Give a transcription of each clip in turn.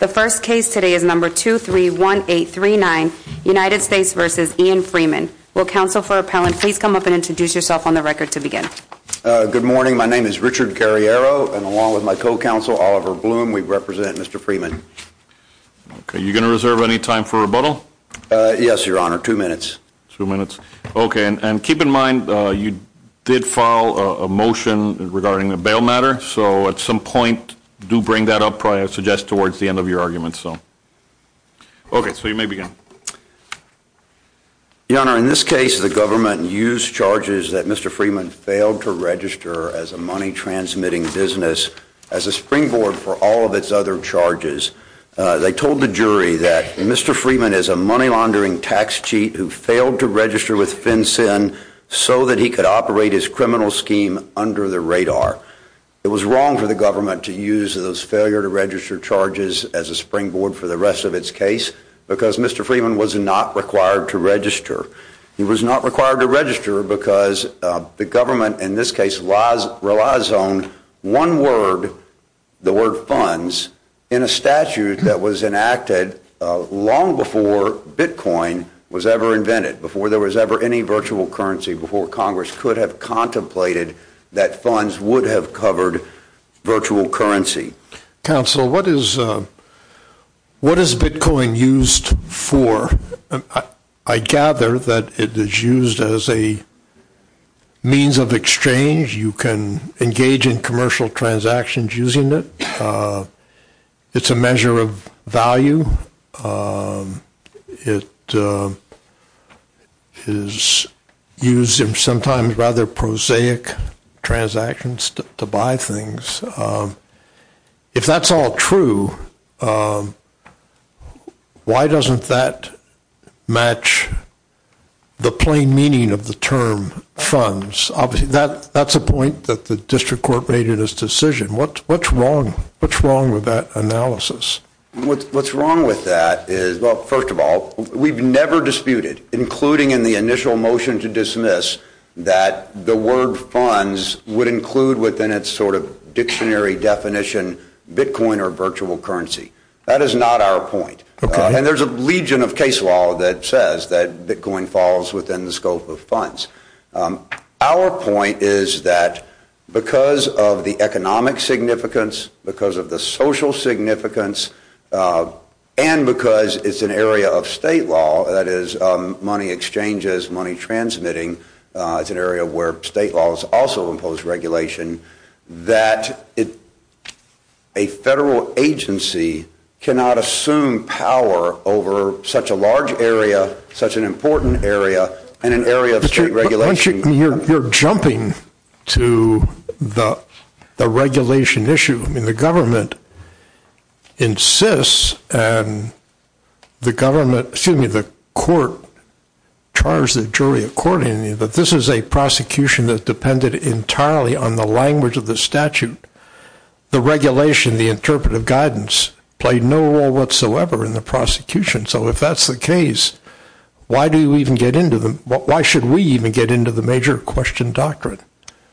The first case today is number 231839, United States v. Ian Freeman. Will counsel for appellant please come up and introduce yourself on the record to begin. Good morning. My name is Richard Carriero and along with my co-counsel, Oliver Bloom, we represent Mr. Freeman. Okay. You're going to reserve any time for rebuttal? Yes, your honor. Two minutes. Two minutes. Okay. And keep in mind you did file a motion regarding the bail matter, so at some point do bring that up, I suggest, towards the end of your argument, so. Okay. So you may begin. Your honor, in this case the government used charges that Mr. Freeman failed to register as a money transmitting business as a springboard for all of its other charges. They told the jury that Mr. Freeman is a money laundering tax cheat who failed to register with FinCEN so that he could operate his criminal scheme under the radar. It was wrong for the government to use those failure to register charges as a springboard for the rest of its case because Mr. Freeman was not required to register. He was not required to register because the government in this case relies on one word, the word funds, in a statute that was enacted long before Bitcoin was ever invented, before there was ever any virtual currency, before Congress could have contemplated that funds would have covered virtual currency. Counsel, what is Bitcoin used for? I gather that it is used as a means of exchange. You can engage in commercial transactions using it. It's a measure of value. It is used in sometimes rather prosaic transactions to buy things. If that's all true, why doesn't that match the plain meaning of the term funds? That's a point that the district court made in its decision. What's wrong with that analysis? What's wrong with that is, well, first of all, we've never disputed, including in the initial motion to dismiss, that the word funds would include within its sort of dictionary definition Bitcoin or virtual currency. That is not our point. Okay. And there's a legion of case law that says that Bitcoin falls within the scope of funds. Our point is that because of the economic significance, because of the social significance, and because it's an area of state law, that is money exchanges, money transmitting, it's an area where state laws also impose regulation, that a federal agency cannot assume power over such a large area, such an important area, and an area of state regulation. You're jumping to the regulation issue. The government insists, and the court charged the jury accordingly, that this is a prosecution that depended entirely on the language of the statute. The regulation, the interpretive guidance, played no role whatsoever in the prosecution. So if that's the case, why should we even get into the major question doctrine?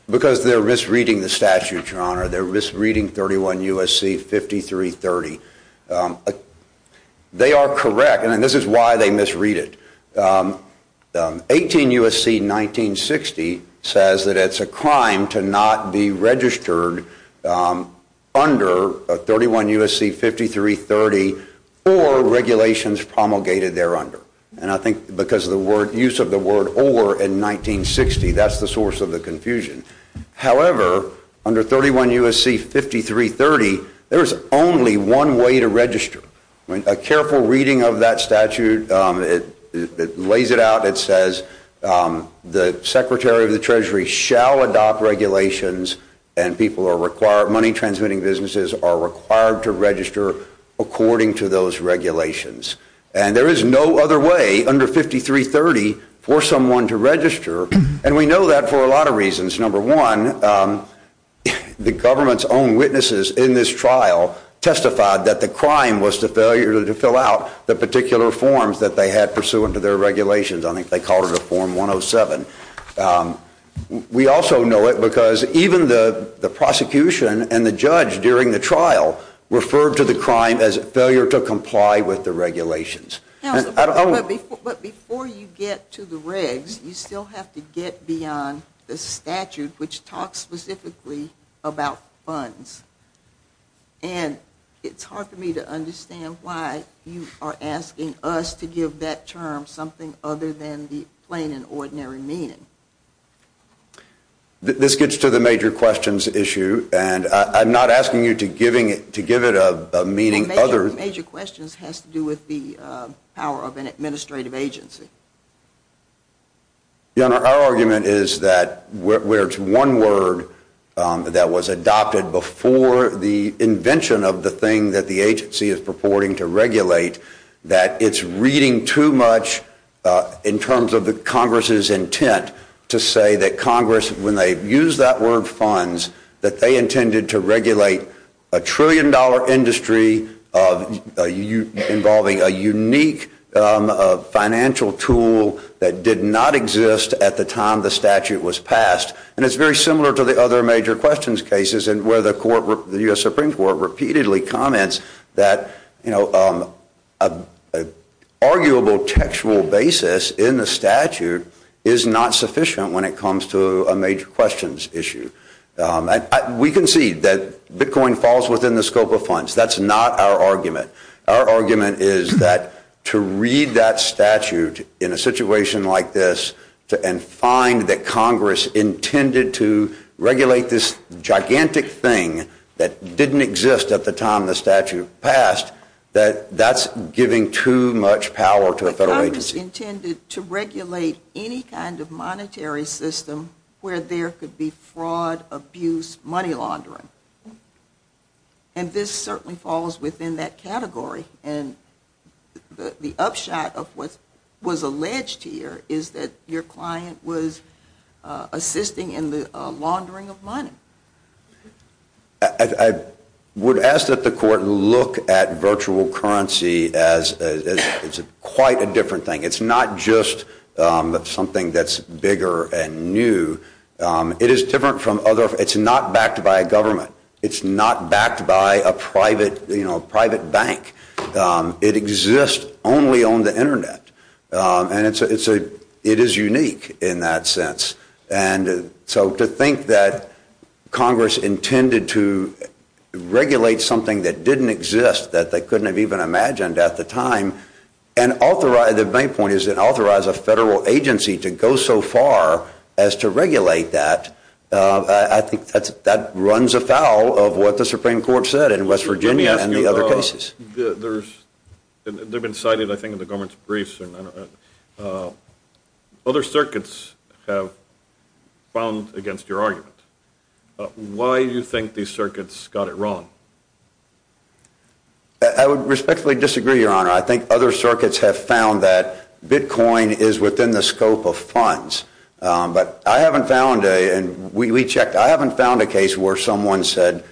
Because they're misreading the statute, your honor. They're misreading 31 U.S.C. 5330. They are correct, and this is why they misread it. 18 U.S.C. 1960 says that it's a crime to not be registered under 31 U.S.C. 5330 or regulations promulgated there under, and I think because of the word, use of the word or in 1960, that's the source of the confusion. However, under 31 U.S.C. 5330, there's only one way to register. A careful reading of that statute, it lays it out. It says the Secretary of the Treasury shall adopt regulations, and people are required, money transmitting businesses are required to register according to those regulations. And there is no other way under 5330 for someone to register, and we know that for a lot of reasons. Number one, the government's own witnesses in this trial testified that the crime was the failure to fill out the particular forms that they had pursuant to their regulations. I think they called it a form 107. We also know it because even the prosecution and the judge during the trial referred to the crime as failure to comply with the regulations. I don't know. But before you get to the regs, you still have to get beyond the statute, which talks specifically about funds. And it's hard for me to understand why you are asking us to give that term something other than the plain and ordinary meaning. This gets to the major questions issue, and I'm not asking you to give it a meaning other than the major questions has to do with the power of an administrative agency. Our argument is that where it's one word that was adopted before the invention of the thing that the agency is purporting to regulate, that it's reading too much in terms of the Congress's intent to say that Congress, when they use that word funds, that they intended to regulate a trillion-dollar industry involving a unique financial tool that did not exist at the time the statute was passed. And it's very similar to the other major questions cases where the court, the U.S. Supreme Court, repeatedly comments that, you know, an arguable textual basis in the statute is not sufficient when it comes to a major questions issue. We concede that Bitcoin falls within the scope of funds. That's not our argument. Our argument is that to read that statute in a situation like this and find that Congress intended to regulate this gigantic thing that didn't exist at the time the statute passed, that that's giving too much power to a federal agency. Congress intended to regulate any kind of monetary system where there could be fraud, abuse, money laundering. And this certainly falls within that category. And the upshot of what was alleged here is that your client was assisting in the laundering of money. I would ask that the court look at virtual currency as it's quite a different thing. It's not just something that's bigger and new. It is different from other, it's not backed by a government. It's not backed by a private, you know, a private bank. It exists only on the internet and it's a, it is unique in that sense. And so to think that Congress intended to regulate something that didn't exist that they couldn't have even imagined at the time and authorize, the main point is it authorized a federal agency to go so far as to regulate that. I think that runs afoul of what the Supreme Court said in West Virginia and the other cases. Let me ask you, there's, they've been cited I think in the government's briefs and I don't know, other circuits have found against your argument. Why do you think these circuits got it wrong? I would respectfully disagree, Your Honor. I think other circuits have found that Bitcoin is within the scope of funds. But I haven't found a, and we checked, I haven't found a case where someone said,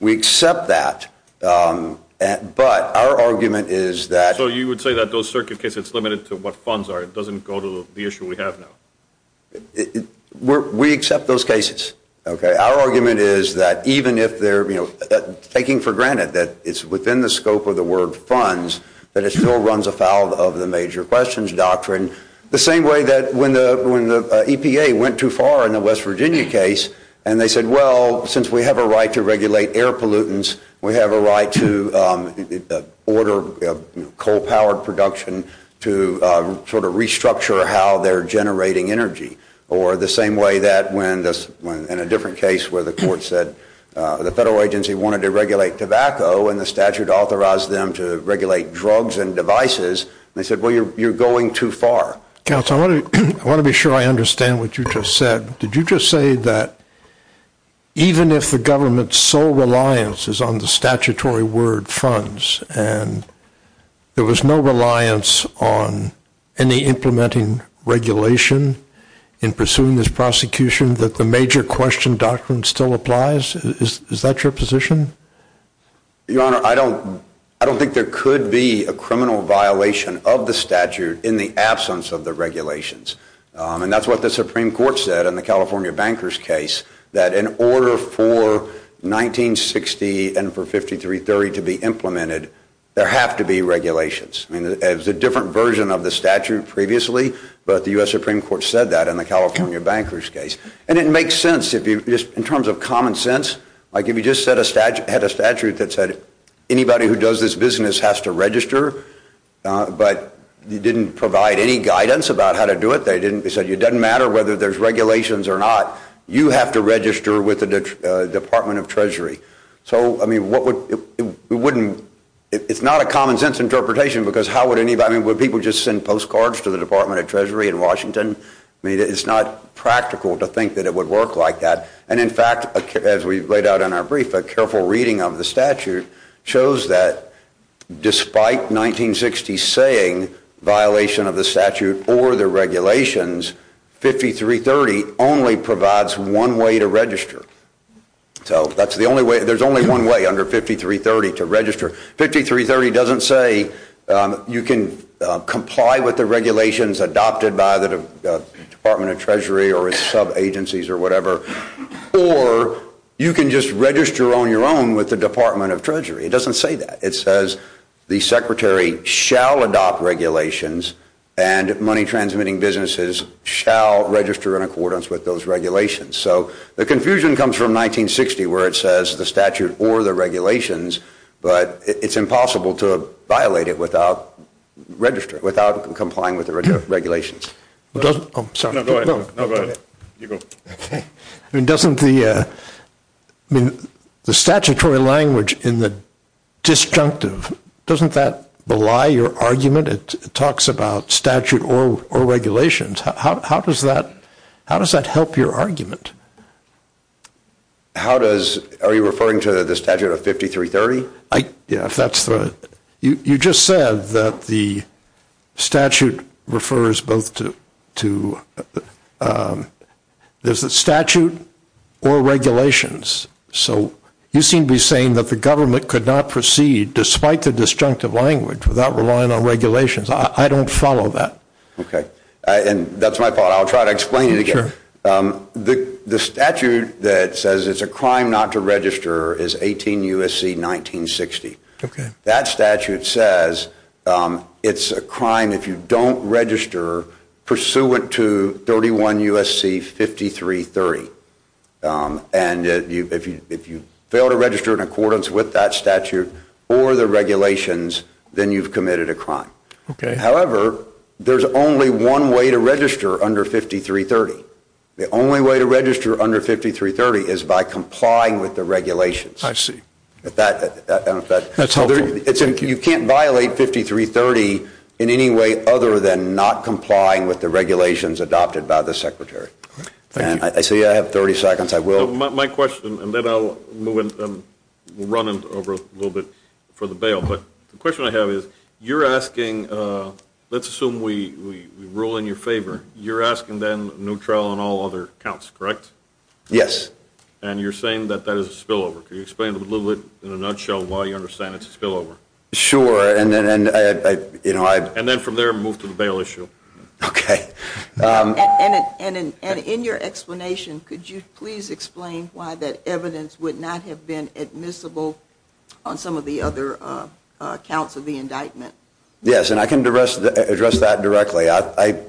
we accept that, but our argument is that. So you would say that those circuit cases, it's limited to what funds are. It doesn't go to the issue we have now. We accept those cases, okay. Our argument is that even if they're, you know, taking for granted that it's within the scope of the word funds, that it still runs afoul of the major questions doctrine. The same way that when the EPA went too far in the West Virginia case and they said, well, since we have a right to regulate air pollutants, we have a right to order coal powered production to sort of restructure how they're generating energy. Or the same way that when, in a different case where the court said the federal agency wanted to regulate tobacco and the statute authorized them to regulate drugs and devices, they said, well, you're going too far. Counselor, I want to be sure I understand what you just said. Did you just say that even if the government's sole reliance is on the statutory word funds and there was no reliance on any implementing regulation in pursuing this prosecution that the major question doctrine still applies? Is that your position? Your Honor, I don't think there could be a criminal violation of the statute in the absence of the regulations. And that's what the Supreme Court said in the California Bankers case, that in order for 1960 and for 5330 to be implemented, there have to be regulations. I mean, it was a different version of the statute previously, but the U.S. Supreme Court said that in the California Bankers case. And it makes sense if you, just in terms of common sense, like if you just had a statute that said anybody who does this business has to register, but you didn't provide any guidance about how to do it. They said it doesn't matter whether there's regulations or not. You have to register with the Department of Treasury. So, I mean, it's not a common sense interpretation because how would anybody, I mean, would people just send postcards to the Department of Treasury in Washington? I mean, it's not practical to think that it would work like that. And in fact, as we laid out in our brief, a careful reading of the statute shows that despite 1960 saying violation of the statute or the regulations, 5330 only provides one way to register. So that's the only way, there's only one way under 5330 to register. 5330 doesn't say you can comply with the regulations adopted by the Department of Treasury or its sub-agencies or whatever. Or you can just register on your own with the Department of Treasury. It doesn't say that. It says the secretary shall adopt regulations and money transmitting businesses shall register in accordance with those regulations. So the confusion comes from 1960 where it says the statute or the regulations, but it's impossible to violate it without register, without complying with the regulations. Well, doesn't, oh, sorry. No, go ahead, you go. Okay. I mean, doesn't the, I mean, the statutory language in the disjunctive, doesn't that belie your argument? It talks about statute or regulations. How does that, how does that help your argument? How does, are you referring to the statute of 5330? Yeah, if that's the, you just said that the statute refers both to, to there's a statute or regulations. So you seem to be saying that the government could not proceed despite the disjunctive language without relying on regulations. I don't follow that. Okay. And that's my thought. I'll try to explain it again. The statute that says it's a crime not to register is 18 USC 1960. That statute says it's a crime if you don't register pursuant to 31 USC 5330. And if you fail to register in accordance with that statute or the regulations, then you've committed a crime. However, there's only one way to register under 5330. The only way to register under 5330 is by complying with the regulations. I see that, that's how you can't violate 5330 in any way other than not complying with the regulations adopted by the secretary. And I see I have 30 seconds. I will my question and then I'll move in running over a little bit for the bail. But the question I have is you're asking let's assume we rule in your favor. You're asking then neutral on all other counts, correct? Yes. And you're saying that that is a spillover. Can you explain a little bit in a nutshell why you understand it's a spillover? Sure. And then I, you know, I, and then from there moved to the bail issue. Okay. And, and, and, and in your explanation, could you please explain why that evidence would not have been admissible on some of the other accounts of the indictment? Yes. And I can address that directly. I, I,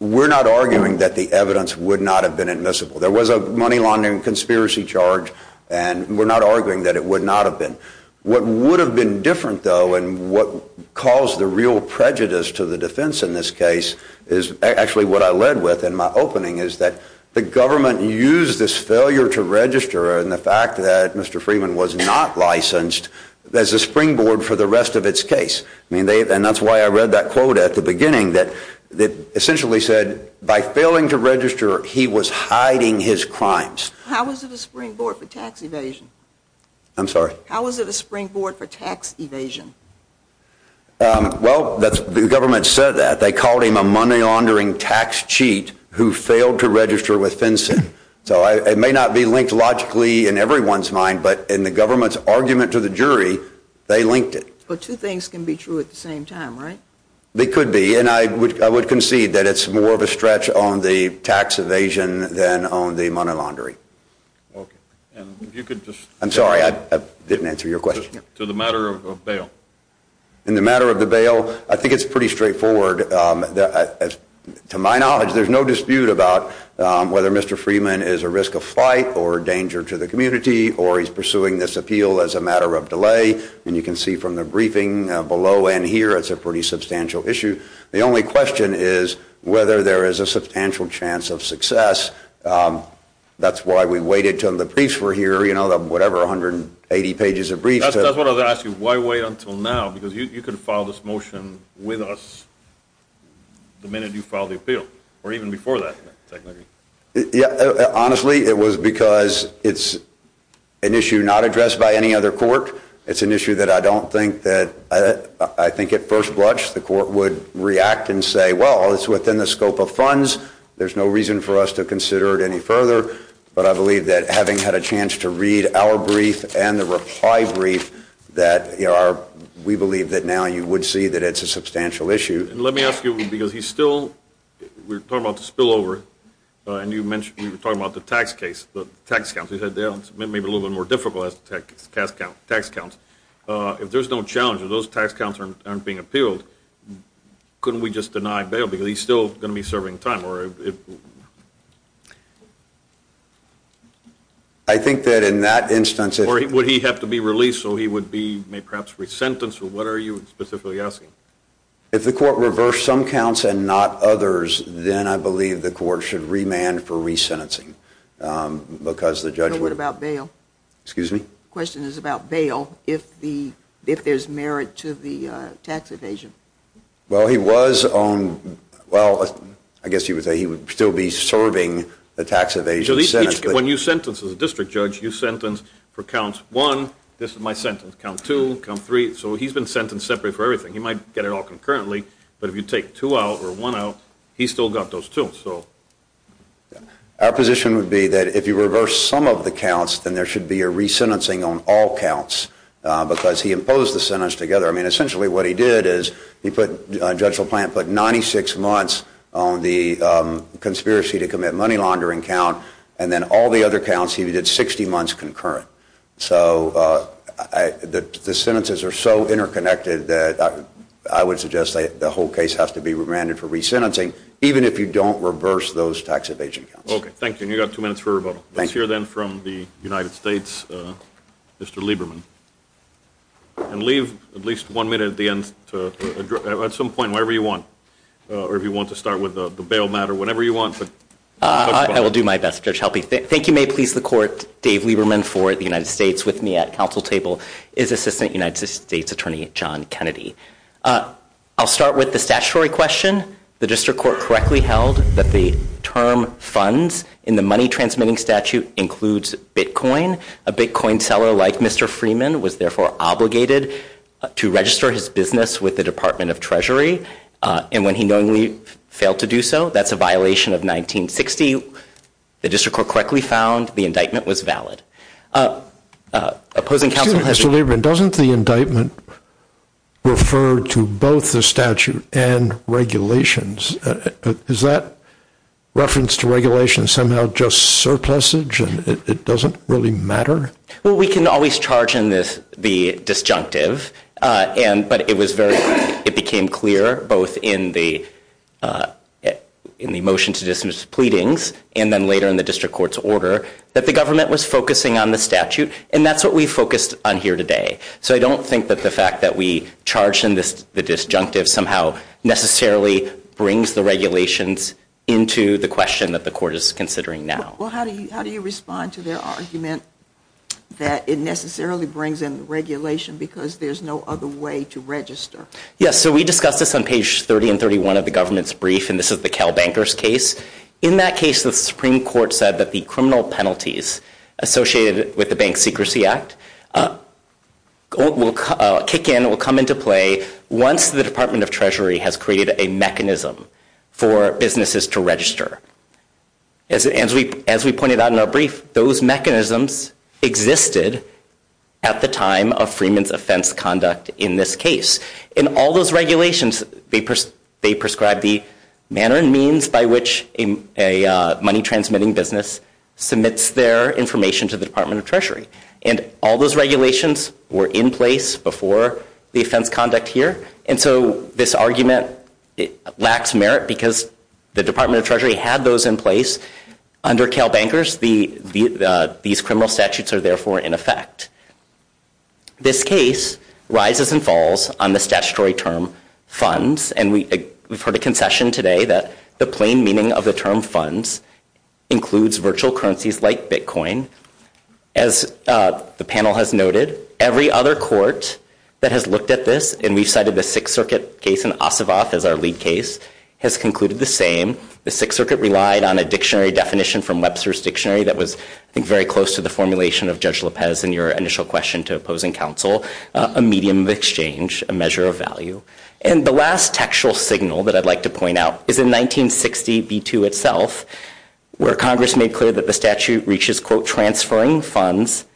we're not arguing that the evidence would not have been admissible. There was a money laundering conspiracy charge and we're not arguing that it would not have been. What would have been different though and what caused the real prejudice to the defense in this case is actually what I led with in my opening is that the government used this failure to register and the fact that Mr. Freeman was not licensed as a springboard for the rest of its case. I mean, they, and that's why I read that quote at the beginning that essentially said by failing to register, he was hiding his crimes. How was it a springboard for tax evasion? I'm sorry. How was it a springboard for tax evasion? Well, that's the government said that they called him a money laundering tax cheat who failed to register with FinCEN. So I, it may not be linked logically in everyone's mind, but in the government's argument to the jury, they linked it. But two things can be true at the same time, right? They could be. And I would, I would concede that it's more of a stretch on the tax evasion than on the money laundry. Okay. And you could just, I'm sorry, I didn't answer your question to the matter of bail and the matter of the bail. I think it's pretty straightforward. Um, to my knowledge, there's no dispute about, um, whether Mr. Freeman is a risk of flight or danger to the community, or he's pursuing this appeal as a matter of delay. And you can see from the briefing below and here, it's a pretty substantial issue. The only question is whether there is a substantial chance of success. Um, that's why we waited till the briefs were here. You know, the, whatever, 180 pages of briefs. That's what I was asking. Why wait until now? Because you, you can file this motion with us the minute you file the appeal or even before that, technically. Yeah, honestly, it was because it's an issue not addressed by any other court. It's an issue that I don't think that, uh, I think at first blush, the court would react and say, well, it's within the scope of funds. There's no reason for us to consider it any further, but I believe that having had a chance to read our brief and the reply brief that are, we believe that now you would see that it's a substantial issue. And let me ask you, because he's still, we're talking about the spill over, uh, and you mentioned, we were talking about the tax case, the tax counts, he said, they may be a little bit more difficult as tax count, tax counts. Uh, if there's no challenges, those tax counts aren't, aren't being appealed. Couldn't we just deny bail because he's still going to be serving time or if. I think that in that instance, or would he have to be released? So he would be, may perhaps resentence or what are you specifically asking? If the court reversed some counts and not others, then I believe the court should remand for resentencing. Um, because the judge would about bail, excuse me, question is about bail. If the, if there's merit to the, uh, tax evasion, well, he was on, well, I guess he would say he would still be serving the tax evasion. When you sentence as a district judge, you sentenced for counts one, this is my sentence count to come three. So he's been sentenced separate for everything. He might get it all concurrently, but if you take two out or one out, he's still got those two. So our position would be that if you reverse some of the counts, then there should be a resentencing on all counts. Uh, because he imposed the sentence together. I mean, essentially what he did is he put, uh, Judge LaPlante put 96 months on the, um, conspiracy to commit money laundering count and then all the other counts he did 60 months concurrent. So, uh, I, the, the sentences are so interconnected that I would suggest that the whole case has to be remanded for resentencing, even if you don't reverse those tax evasion counts. Okay. Thank you. And you got two minutes for rebuttal. Let's hear then from the United States, uh, Mr. Lieberman and leave at least one minute at the end to address at some point, wherever you want, uh, or if you want to start with the bail matter, whenever you want, but I will do my best to help you. Thank you. May please the court. Dave Lieberman for the United States with me at council table is assistant United States attorney, John Kennedy. Uh, I'll start with the statutory question. The district court correctly held that the term funds in the money transmitting statute includes Bitcoin. A Bitcoin seller like Mr. Freeman was therefore obligated to register his business with the department of treasury. Uh, and when he knowingly failed to do so, that's a violation of 1960. The district court correctly found the indictment was valid. Uh, uh, opposing counsel, Mr. Lieberman, doesn't the indictment refer to both the statute and regulations? Is that reference to regulation somehow just surplusage and it doesn't really matter? Well, we can always charge in this, the disjunctive, uh, and, but it was very, it became clear both in the, uh, in the motion to dismiss pleadings and then later in the district court's order that the government was focusing on the statute and that's what we focused on here today. So I don't think that the fact that we charge in this, the disjunctive somehow necessarily brings the regulations into the question that the court is considering now. Well, how do you, how do you respond to their argument that it necessarily brings in regulation because there's no other way to register? Yes. So we discussed this on page 30 and 31 of the government's brief and this is the Cal Bankers case. In that case, the Supreme Court said that the criminal penalties associated with the bank secrecy act, uh, will kick in, will come into play once the department of treasury has created a mechanism for businesses to register. As, as we, as we pointed out in our brief, those mechanisms existed at the time of Freeman's offense conduct in this case. In all those regulations, they prescribed the manner and means by which a money transmitting business submits their information to the department of treasury and all those regulations were in place before the offense conduct here. And so this argument lacks merit because the department of treasury had those in place under Cal Bankers. The, the, uh, these criminal statutes are therefore in effect. This case rises and falls on the statutory term funds. And we, we've heard a concession today that the plain meaning of the term funds includes virtual currencies like Bitcoin. As, uh, the panel has noted every other court that has looked at this and we've cited the Sixth Circuit case in Ossoff as our lead case has concluded the same. The Sixth Circuit relied on a dictionary definition from Webster's dictionary that was, I think, very close to the formulation of Judge Lopez and your initial question to opposing counsel, a medium of exchange, a measure of value. And the last textual signal that I'd like to point out is in 1960 B-2 itself, where Congress made clear that the statute reaches quote transferring funds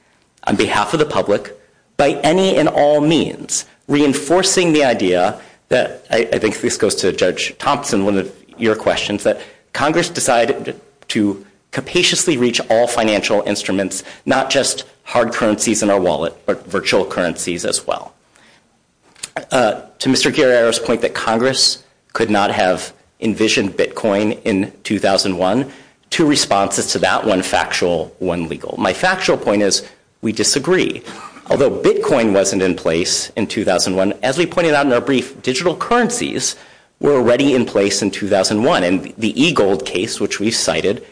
on behalf of the public by any and all means, reinforcing the idea that I think this goes to Judge Thompson, one of your questions that Congress decided to patiently reach all financial instruments, not just hard currencies in our wallet, but virtual currencies as well. Uh, to Mr. Guerrero's point that Congress could not have envisioned Bitcoin in 2001, two responses to that one factual, one legal. My factual point is we disagree. Although Bitcoin wasn't in place in 2001, as we pointed out in our brief, digital currencies were already in place in 2001. And the e-gold case, which we cited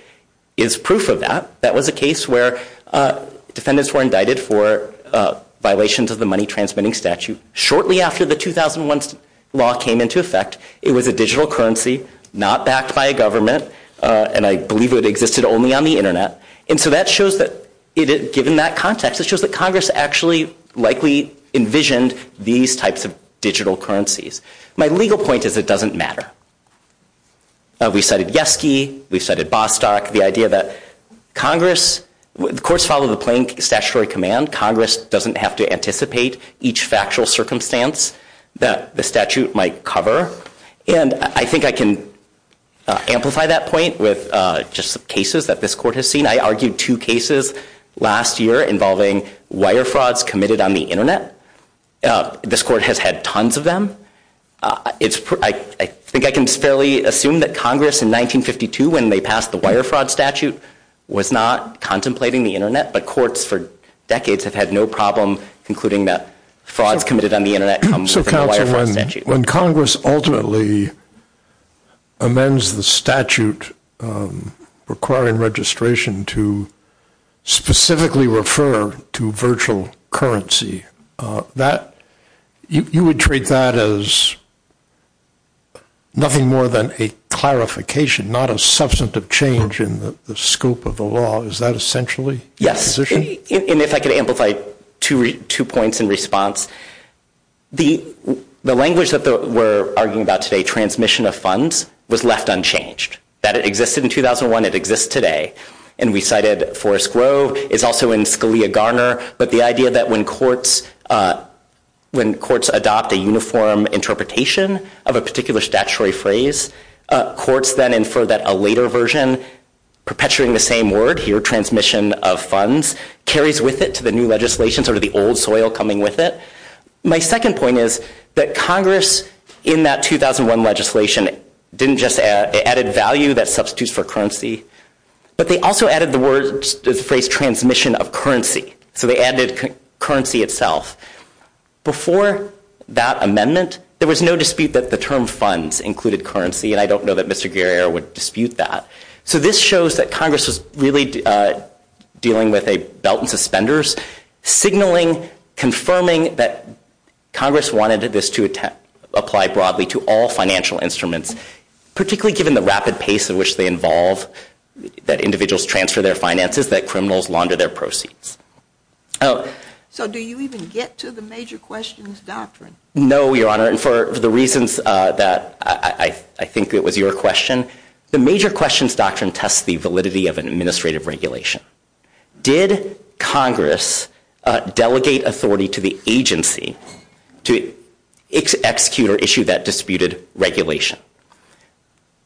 is proof of that. That was a case where, uh, defendants were indicted for, uh, violations of the money transmitting statute shortly after the 2001 law came into effect. It was a digital currency, not backed by a government. Uh, and I believe it existed only on the internet. And so that shows that it, given that context, it shows that Congress actually likely envisioned these types of digital currencies. My legal point is it doesn't matter. Uh, we cited Yeski, we cited Bostock, the idea that Congress, the courts follow the plain statutory command. Congress doesn't have to anticipate each factual circumstance that the statute might cover. And I think I can amplify that point with, uh, just some cases that this court has seen. I argued two cases last year involving wire frauds committed on the internet. Uh, this court has had tons of them. Uh, it's, I think I can fairly assume that Congress in 1952, when they passed the wire fraud statute was not contemplating the internet, but courts for decades have had no problem concluding that frauds committed on the internet comes from the wire fraud statute. When Congress ultimately amends the statute, um, requiring registration to specifically refer to virtual currency, uh, that you, you would treat that as as nothing more than a clarification, not a substantive change in the scope of the law. Is that essentially? Yes. And if I could amplify two, two points in response, the, the language that we're arguing about today, transmission of funds was left unchanged, that it existed in 2001. It exists today. And we cited Forrest Grove is also in Scalia Garner, but the idea that when courts, uh, when courts adopt a uniform interpretation of a particular statutory phrase, uh, courts then infer that a later version, perpetuating the same word here, transmission of funds, carries with it to the new legislation, sort of the old soil coming with it. My second point is that Congress in that 2001 legislation didn't just add added value that substitutes for currency, but they also added the word phrase transmission of currency. So they added currency itself. Before that amendment, there was no dispute that the term funds included currency. And I don't know that Mr. Guerriero would dispute that. So this shows that Congress was really, uh, dealing with a belt and suspenders signaling, confirming that Congress wanted this to apply broadly to all financial instruments, particularly given the rapid pace in which they involve that individuals transfer their finances, that criminals launder their proceeds. Oh, so do you even get to the major questions doctrine? No, Your Honor. And for the reasons that I think it was your question, the major questions doctrine tests the validity of an administrative regulation. Did Congress, uh, delegate authority to the agency to execute or issue that disputed regulation?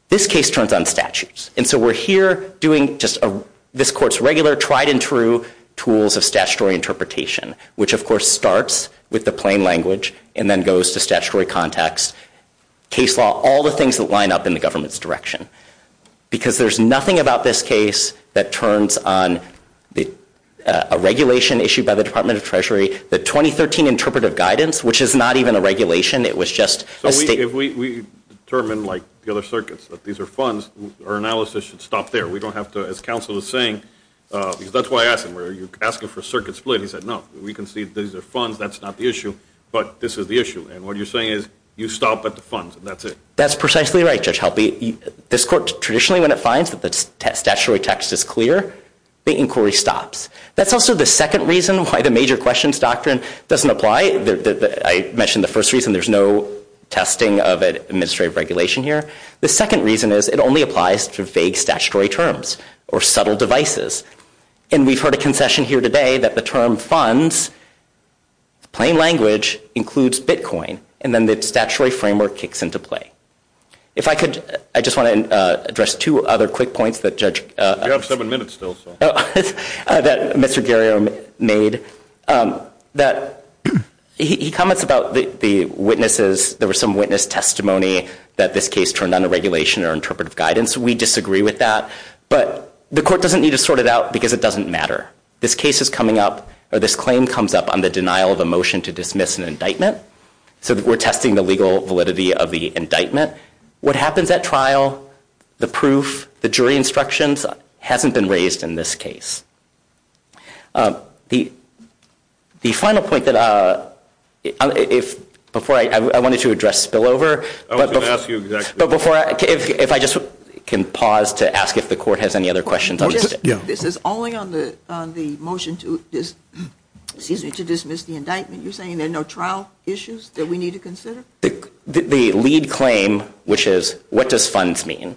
This case turns on statutes. And so we're here doing just a, this court's regular tried and true tools of statutory interpretation, which of course starts with the plain language and then goes to statutory context, case law, all the things that line up in the government's direction. Because there's nothing about this case that turns on the, uh, a regulation issued by the department of treasury, the 2013 interpretive guidance, which is not even a regulation. It was just a state. If we determine like the other circuits that these are funds or analysis should stop there. We don't have to, as counsel was saying, uh, because that's why I asked him, where asking for a circuit split, he said, no, we can see that these are funds. That's not the issue, but this is the issue. And what you're saying is you stop at the funds and that's it. That's precisely right. Judge Helpy, this court traditionally, when it finds that the statutory text is clear, the inquiry stops. That's also the second reason why the major questions doctrine doesn't apply. The, I mentioned the first reason there's no testing of administrative regulation here. The second reason is it only applies to vague statutory terms or subtle devices. And we've heard a concession here today that the term funds plain language includes Bitcoin. And then the statutory framework kicks into play. If I could, I just want to, uh, address two other quick points that judge, uh, seven minutes still so that Mr. Gary made, um, that he, he comments about the, the witnesses. There was some witness testimony that this case turned on a regulation or interpretive guidance. We disagree with that. But the court doesn't need to sort it out because it doesn't matter. This case is coming up or this claim comes up on the denial of a motion to dismiss an indictment. So we're testing the legal validity of the indictment. What happens at trial, the proof, the jury instructions hasn't been raised in this case. Um, the, the final point that, uh, if before I, I wanted to address spillover, but before I, if I just can pause to ask if the court has any other questions, this is only on the, on the motion to this season to dismiss the indictment. You're saying there are no trial issues that we need to consider the lead claim, which is what does funds mean?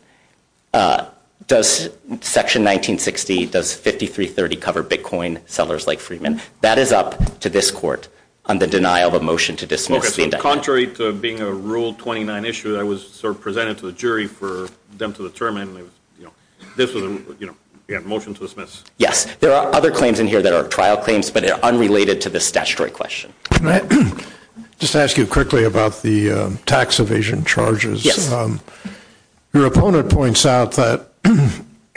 Uh, does section 1960 does 5330 cover Bitcoin sellers like Freeman that is up to this court on the denial of motion to dismiss the contrary to being a rule 29 issue that was sort of presented to the jury for them to determine, you know, this was, you know, yeah, motion to dismiss. Yes. There are other claims in here that are trial claims, but they're unrelated to the statutory question. Just to ask you quickly about the tax evasion charges, your opponent points out that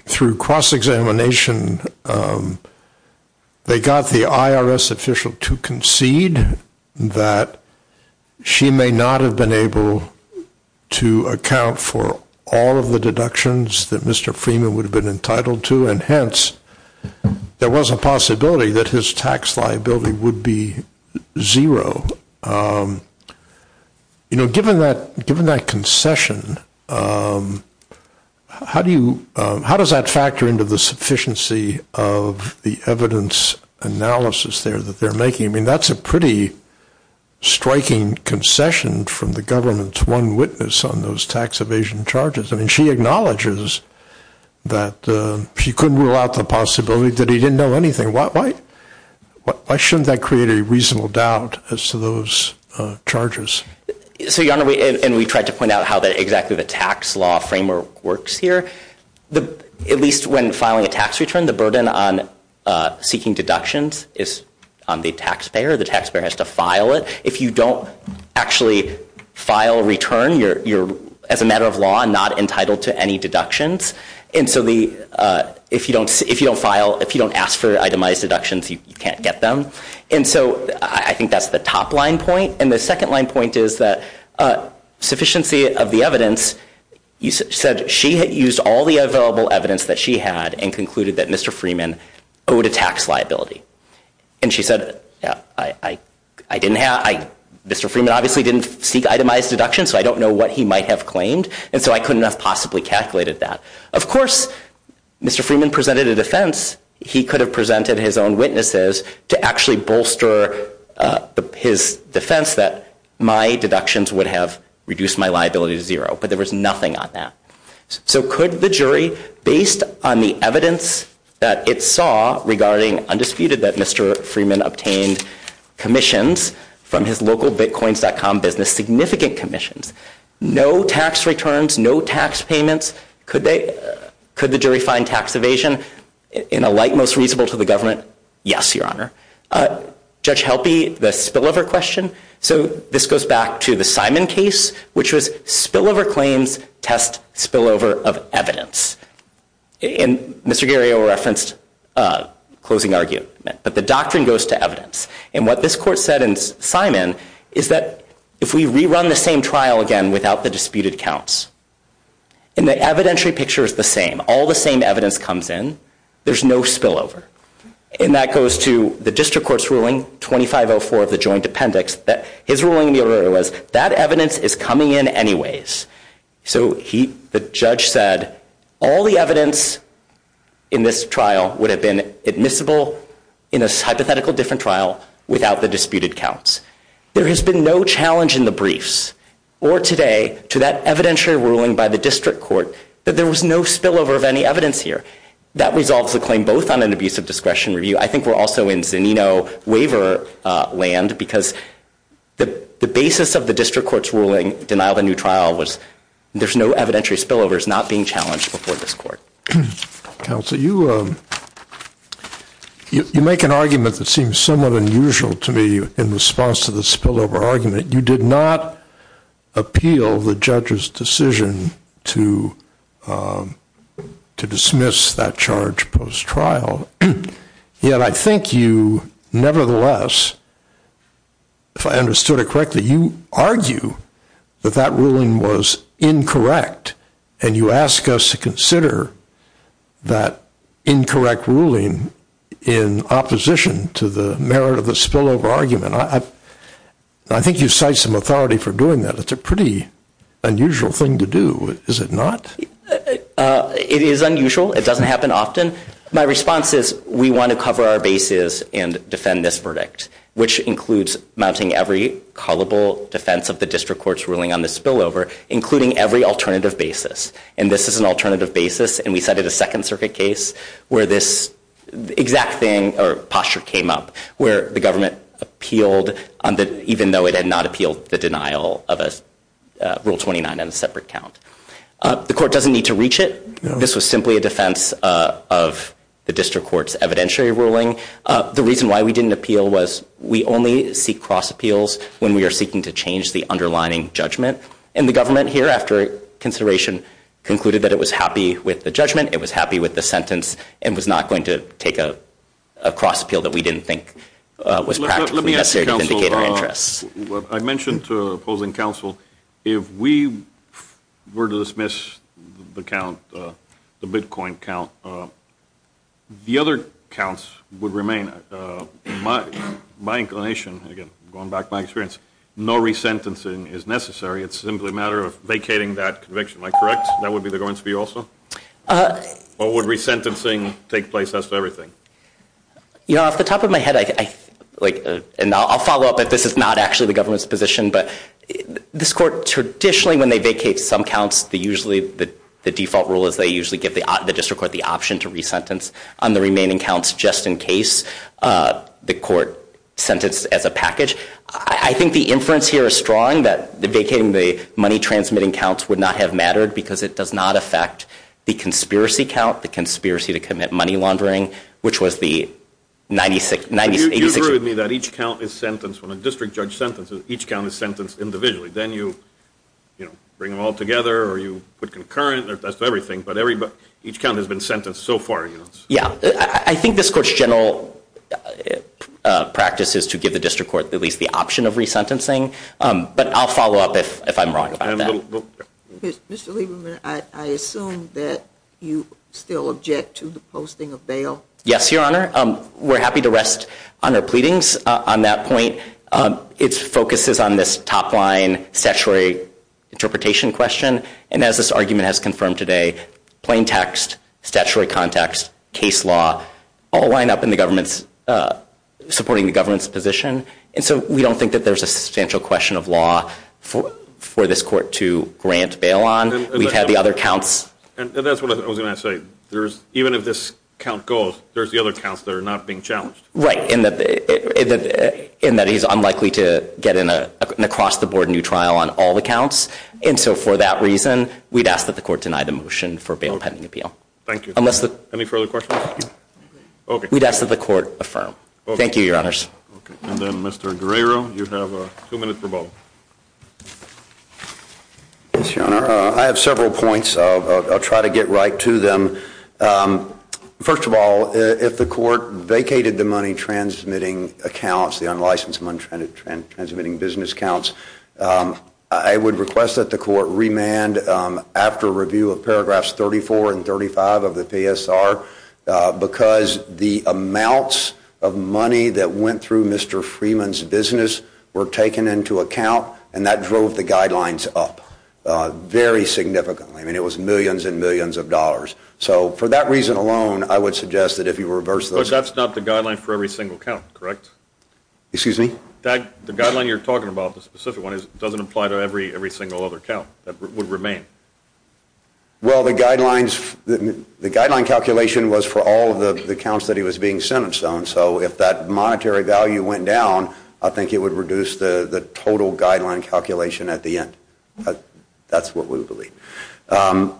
through cross-examination, um, they got the IRS official to concede that she may not have been able to account for all of the deductions that Mr. Freeman would have been entitled to. And hence there was a possibility that his tax liability would be zero. Um, you know, given that, given that concession, um, how do you, um, how does that factor into the sufficiency of the evidence analysis there that they're making? I mean, that's a pretty striking concession from the government's one witness on those tax evasion charges. I mean, she acknowledges that she couldn't rule out the possibility that he didn't know anything. Why shouldn't that create a reasonable doubt as to those charges? So your honor, and we tried to point out how that exactly the tax law framework works here. The, at least when filing a tax return, the burden on seeking deductions is on the taxpayer. The taxpayer has to file it. If you don't actually file return, you're, you're as a matter of law, not entitled to any deductions. And so the, uh, if you don't, if you don't file, if you don't ask for itemized deductions, you can't get them. And so I think that's the top line point. And the second line point is that a sufficiency of the evidence you said, she had used all the available evidence that she had and concluded that Mr. Freeman owed a tax liability. And she said, yeah, I, I, I didn't have, I, Mr. Freeman obviously didn't seek itemized deductions. So I don't know what he might have claimed. And so I couldn't have possibly calculated that. Of course, Mr. Freeman presented a defense. He could have presented his own witnesses to actually bolster his defense that my deductions would have reduced my liability to zero. But there was nothing on that. So could the jury based on the evidence that it saw regarding undisputed that Mr. Freeman obtained commissions from his local bitcoins.com business, significant commissions, no tax returns, no tax payments. Could they, could the jury find tax evasion in a light, most reasonable to the government? Yes. Your honor, uh, judge helpy, the spillover question. So this goes back to the Simon case, which was spillover claims, test spillover of evidence. And Mr. Guerrero referenced a closing argument, but the doctrine goes to evidence. And what this court said in Simon is that if we rerun the same trial again without the disputed counts and the evidentiary picture is the same, all the same evidence comes in, there's no spillover. And that goes to the district court's ruling 2504 of the joint appendix that his ruling was that evidence is coming in anyways. So he, the judge said all the evidence in this trial would have been admissible in a hypothetical different trial without the disputed counts. There has been no challenge in the briefs or today to that evidentiary ruling by the district court that there was no spillover of any evidence here that resolves the claim both on an abuse of discretion review. I think we're also in Zanino waiver land because the basis of the district court's ruling denial, the new trial was there's no evidentiary spillover is not being challenged before this court council. You you make an argument that seems somewhat unusual to me in response to the spillover argument. You did not appeal the judge's decision to to dismiss that charge post trial. Yet I think you nevertheless, if I understood it correctly, you argue that that ruling was incorrect and you ask us to consider that incorrect ruling in opposition to the merit of the spillover argument. I, I think you cite some authority for doing that. It's a pretty unusual thing to do. Is it not? It is unusual. It doesn't happen often. My response is we want to cover our bases and defend this verdict, which includes mounting every callable defense of the district court's ruling on the spillover, including every alternative basis. And this is an alternative basis. And we cited a second circuit case where this exact thing or posture came up where the government appealed on that, even though it had not appealed the denial of a rule 29 on a separate count. The court doesn't need to reach it. This was simply a defense of the district court's evidentiary ruling. The reason why we didn't appeal was we only seek cross appeals when we are seeking to change the underlying judgment. And the government here after consideration concluded that it was happy with the judgment. It was happy with the sentence and was not going to take a cross appeal that we didn't think was necessary to vindicate our interests. I mentioned to opposing counsel if we were to dismiss the count, the Bitcoin count, the other counts would remain. My, my inclination again, going back to my experience, no resentencing is necessary. It's simply a matter of vacating that conviction. Am I correct? That would be the going to be also what would resentencing take place as to everything? You know, off the top of my head, I like and I'll follow up that this is not actually the government's position, but this court traditionally when they vacate some counts, the usually the default rule is they usually give the district court the option to resentence on the remaining counts just in case the court sentenced as a I think the inference here is strong that the vacating, the money transmitting counts would not have mattered because it does not affect the conspiracy count, the conspiracy to commit money laundering, which was the 96, 96, 86 that each count is sentenced when a district judge sentences, each count is sentenced individually. Then you, you know, bring them all together or you put concurrent or that's everything. But everybody, each count has been sentenced so far. Yeah, I think this court's general practice is to give the district court at least the option of resentencing. But I'll follow up if, if I'm wrong about that. Mr. Lieberman, I assume that you still object to the posting of bail. Yes, Your Honor. We're happy to rest on our pleadings on that point. It's focuses on this top line statutory interpretation question. And as this argument has confirmed today, plain text, statutory context, case law all lined up in the government's supporting the government's position. And so we don't think that there's a substantial question of law for, for this court to grant bail on. We've had the other counts. And that's what I was going to say. There's even if this count goes, there's the other counts that are not being challenged. Right. In that, in that he's unlikely to get in a, an across the board new trial on all the counts. And so for that reason, we'd ask that the court deny the motion for bail pending appeal. Thank you. Unless the, any further questions? Okay. We'd ask that the court affirm. Thank you, Your Honors. And then Mr. Guerrero, you have a two minute rebuttal. Yes, Your Honor. I have several points. I'll try to get right to them. First of all, if the court vacated the money, transmitting accounts, the unlicensed money and transmitting business counts, I would request that the court remand after review of paragraphs 34 and 35 of the PSR because the amounts of money that went through Mr. Freeman's business were taken into account. And that drove the guidelines up very significantly. I mean, it was millions and millions of dollars. So for that reason alone, I would suggest that if you reverse those. That's not the guideline for every single count, correct? Excuse me? That the guideline you're talking about, the specific one is it doesn't apply to every, every single other count that would remain. Well, the guidelines, the guideline calculation was for all of the accounts that he was being sent and so on. So if that monetary value went down, I think it would reduce the total guideline calculation at the end. That's what we would believe.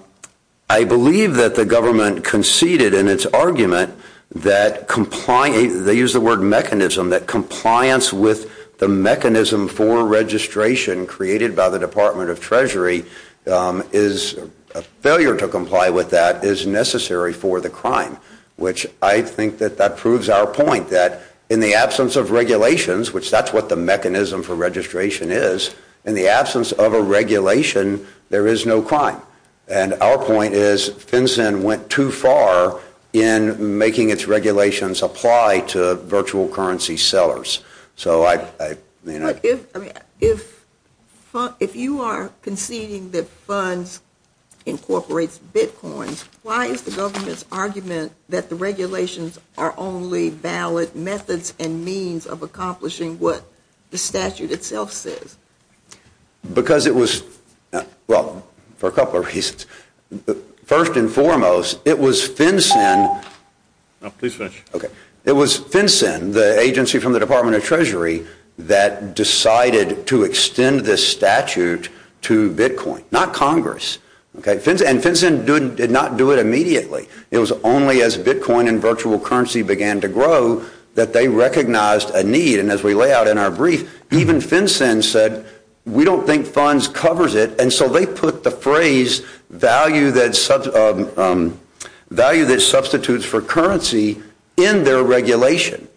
I believe that the government conceded in its argument that complying, they use the word mechanism, that compliance with the mechanism for registration created by the Department of Treasury is a failure to comply with that is necessary for the crime, which I think that that proves our point that in the absence of regulations, which that's what the mechanism for registration is, in the absence of a regulation, there is no crime. And our point is FinCEN went too far in making its regulations apply to virtual currency sellers. So I, I mean, if, if, if you are conceding that funds incorporates Bitcoins, why is the government's argument that the regulations are only valid methods and means of accomplishing what the statute itself says? Because it was, well, for a couple of reasons, first and foremost, it was FinCEN. It was FinCEN, the agency from the Department of Treasury that decided to extend this statute to Bitcoin, not Congress. Okay. And FinCEN did not do it immediately. It was only as Bitcoin and virtual currency began to grow that they recognized a need. And as we lay out in our brief, even FinCEN said, we don't think funds covers it. And so they put the phrase value that, value that substitutes for currency in their regulation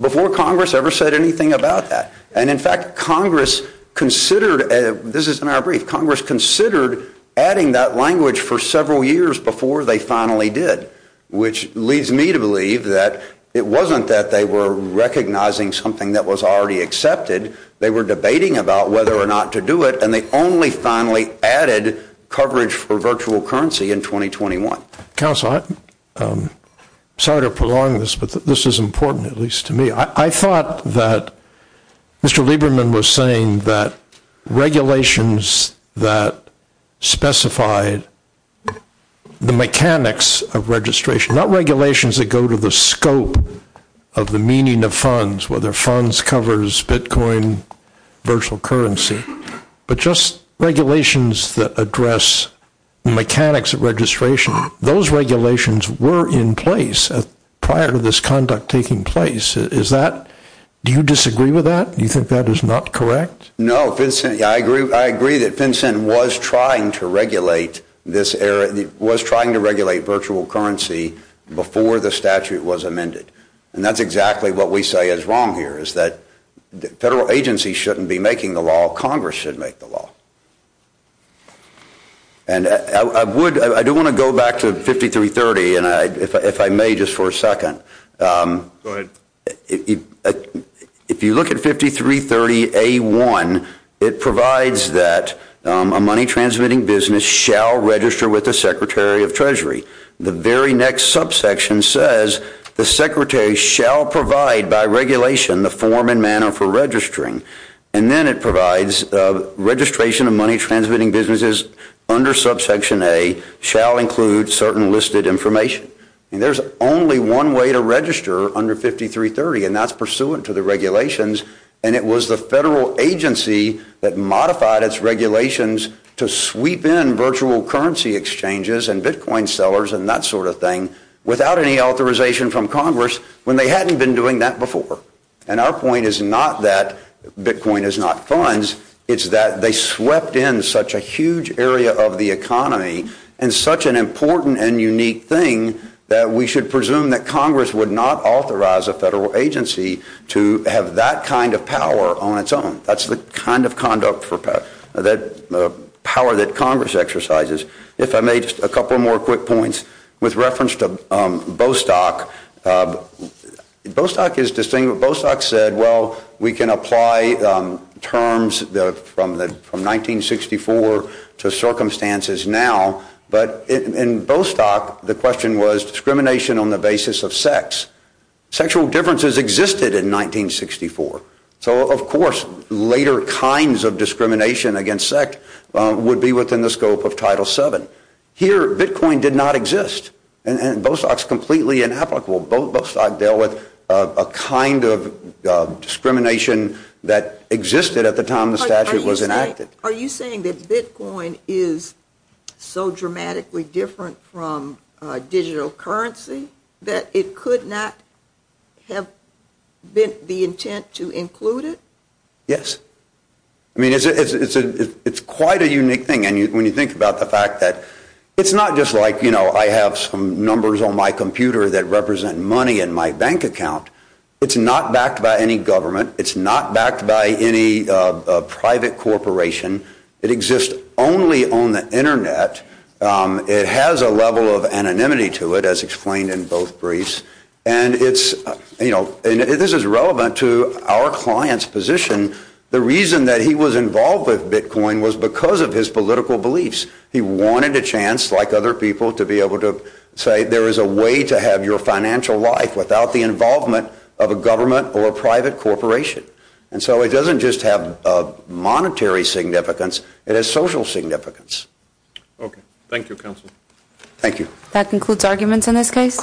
before Congress ever said anything about that. And in fact, Congress considered, this is in our brief, Congress considered adding that language for several years before they finally did, which leads me to believe that it wasn't that they were recognizing something that was already accepted. They were debating about whether or not to do it. And they only finally added coverage for virtual currency in 2021. Counsel, I'm sorry to prolong this, but this is important, at least to me. I thought that Mr. Lieberman was saying that regulations, that specified the mechanics of registration, not regulations that go to the scope of the meaning of funds, whether funds covers Bitcoin, virtual currency, but just regulations that address mechanics of registration. Those regulations were in place prior to this conduct taking place. Is that, do you disagree with that? Do you think that is not correct? No, I agree. I agree that FinCEN was trying to regulate this era, was trying to regulate virtual currency before the statute was amended. And that's exactly what we say is wrong here is that the federal agency shouldn't be making the law. Congress should make the law. And I would, I do want to go back to 5330. And I, if I may, just for a second, if you look at 5330A1, it provides that a money transmitting business shall register with the secretary of treasury. The very next subsection says the secretary shall provide by regulation, the form and manner for registering. And then it provides a registration of money transmitting businesses under subsection A shall include certain listed information. And there's only one way to register under 5330 and that's pursuant to the regulations. And it was the federal agency that modified its regulations to sweep in virtual currency exchanges and Bitcoin sellers and that sort of thing without any authorization from Congress when they hadn't been doing that before. And our point is not that Bitcoin is not funds. It's that they swept in such a huge area of the economy and such an important and unique thing that we should presume that Congress would not authorize a federal agency to have that kind of power on its own. That's the kind of conduct for power that Congress exercises. If I may, just a couple more quick points with reference to Bostock. Bostock is distinguished. Bostock said, well, we can apply terms from 1964 to circumstances now. But in Bostock, the question was discrimination on the basis of sex. Sexual differences existed in 1964. So of course later kinds of discrimination against sex would be within the scope of Title VII. Here Bitcoin did not exist and Bostock's completely inapplicable. Both Bostock dealt with a kind of discrimination that existed at the time the statute was enacted. Are you saying that Bitcoin is so dramatically different from a digital currency that it could not have been the intent to include it? Yes. I mean, it's a, it's a, it's quite a unique thing. And when you think about the fact that it's not just like, you know, I have some numbers on my computer that represent money in my bank account. It's not backed by any government. It's not backed by any private corporation. It exists only on the internet. It has a level of anonymity to it as explained in both briefs. And it's, you know, and this is relevant to our client's position. The reason that he was involved with Bitcoin was because of his political beliefs. He wanted a chance like other people to be able to say there is a way to have your financial life without the involvement of a government or a private corporation. And so it doesn't just have a monetary significance. It has social significance. Okay. Thank you, counsel. Thank you. That concludes arguments in this case.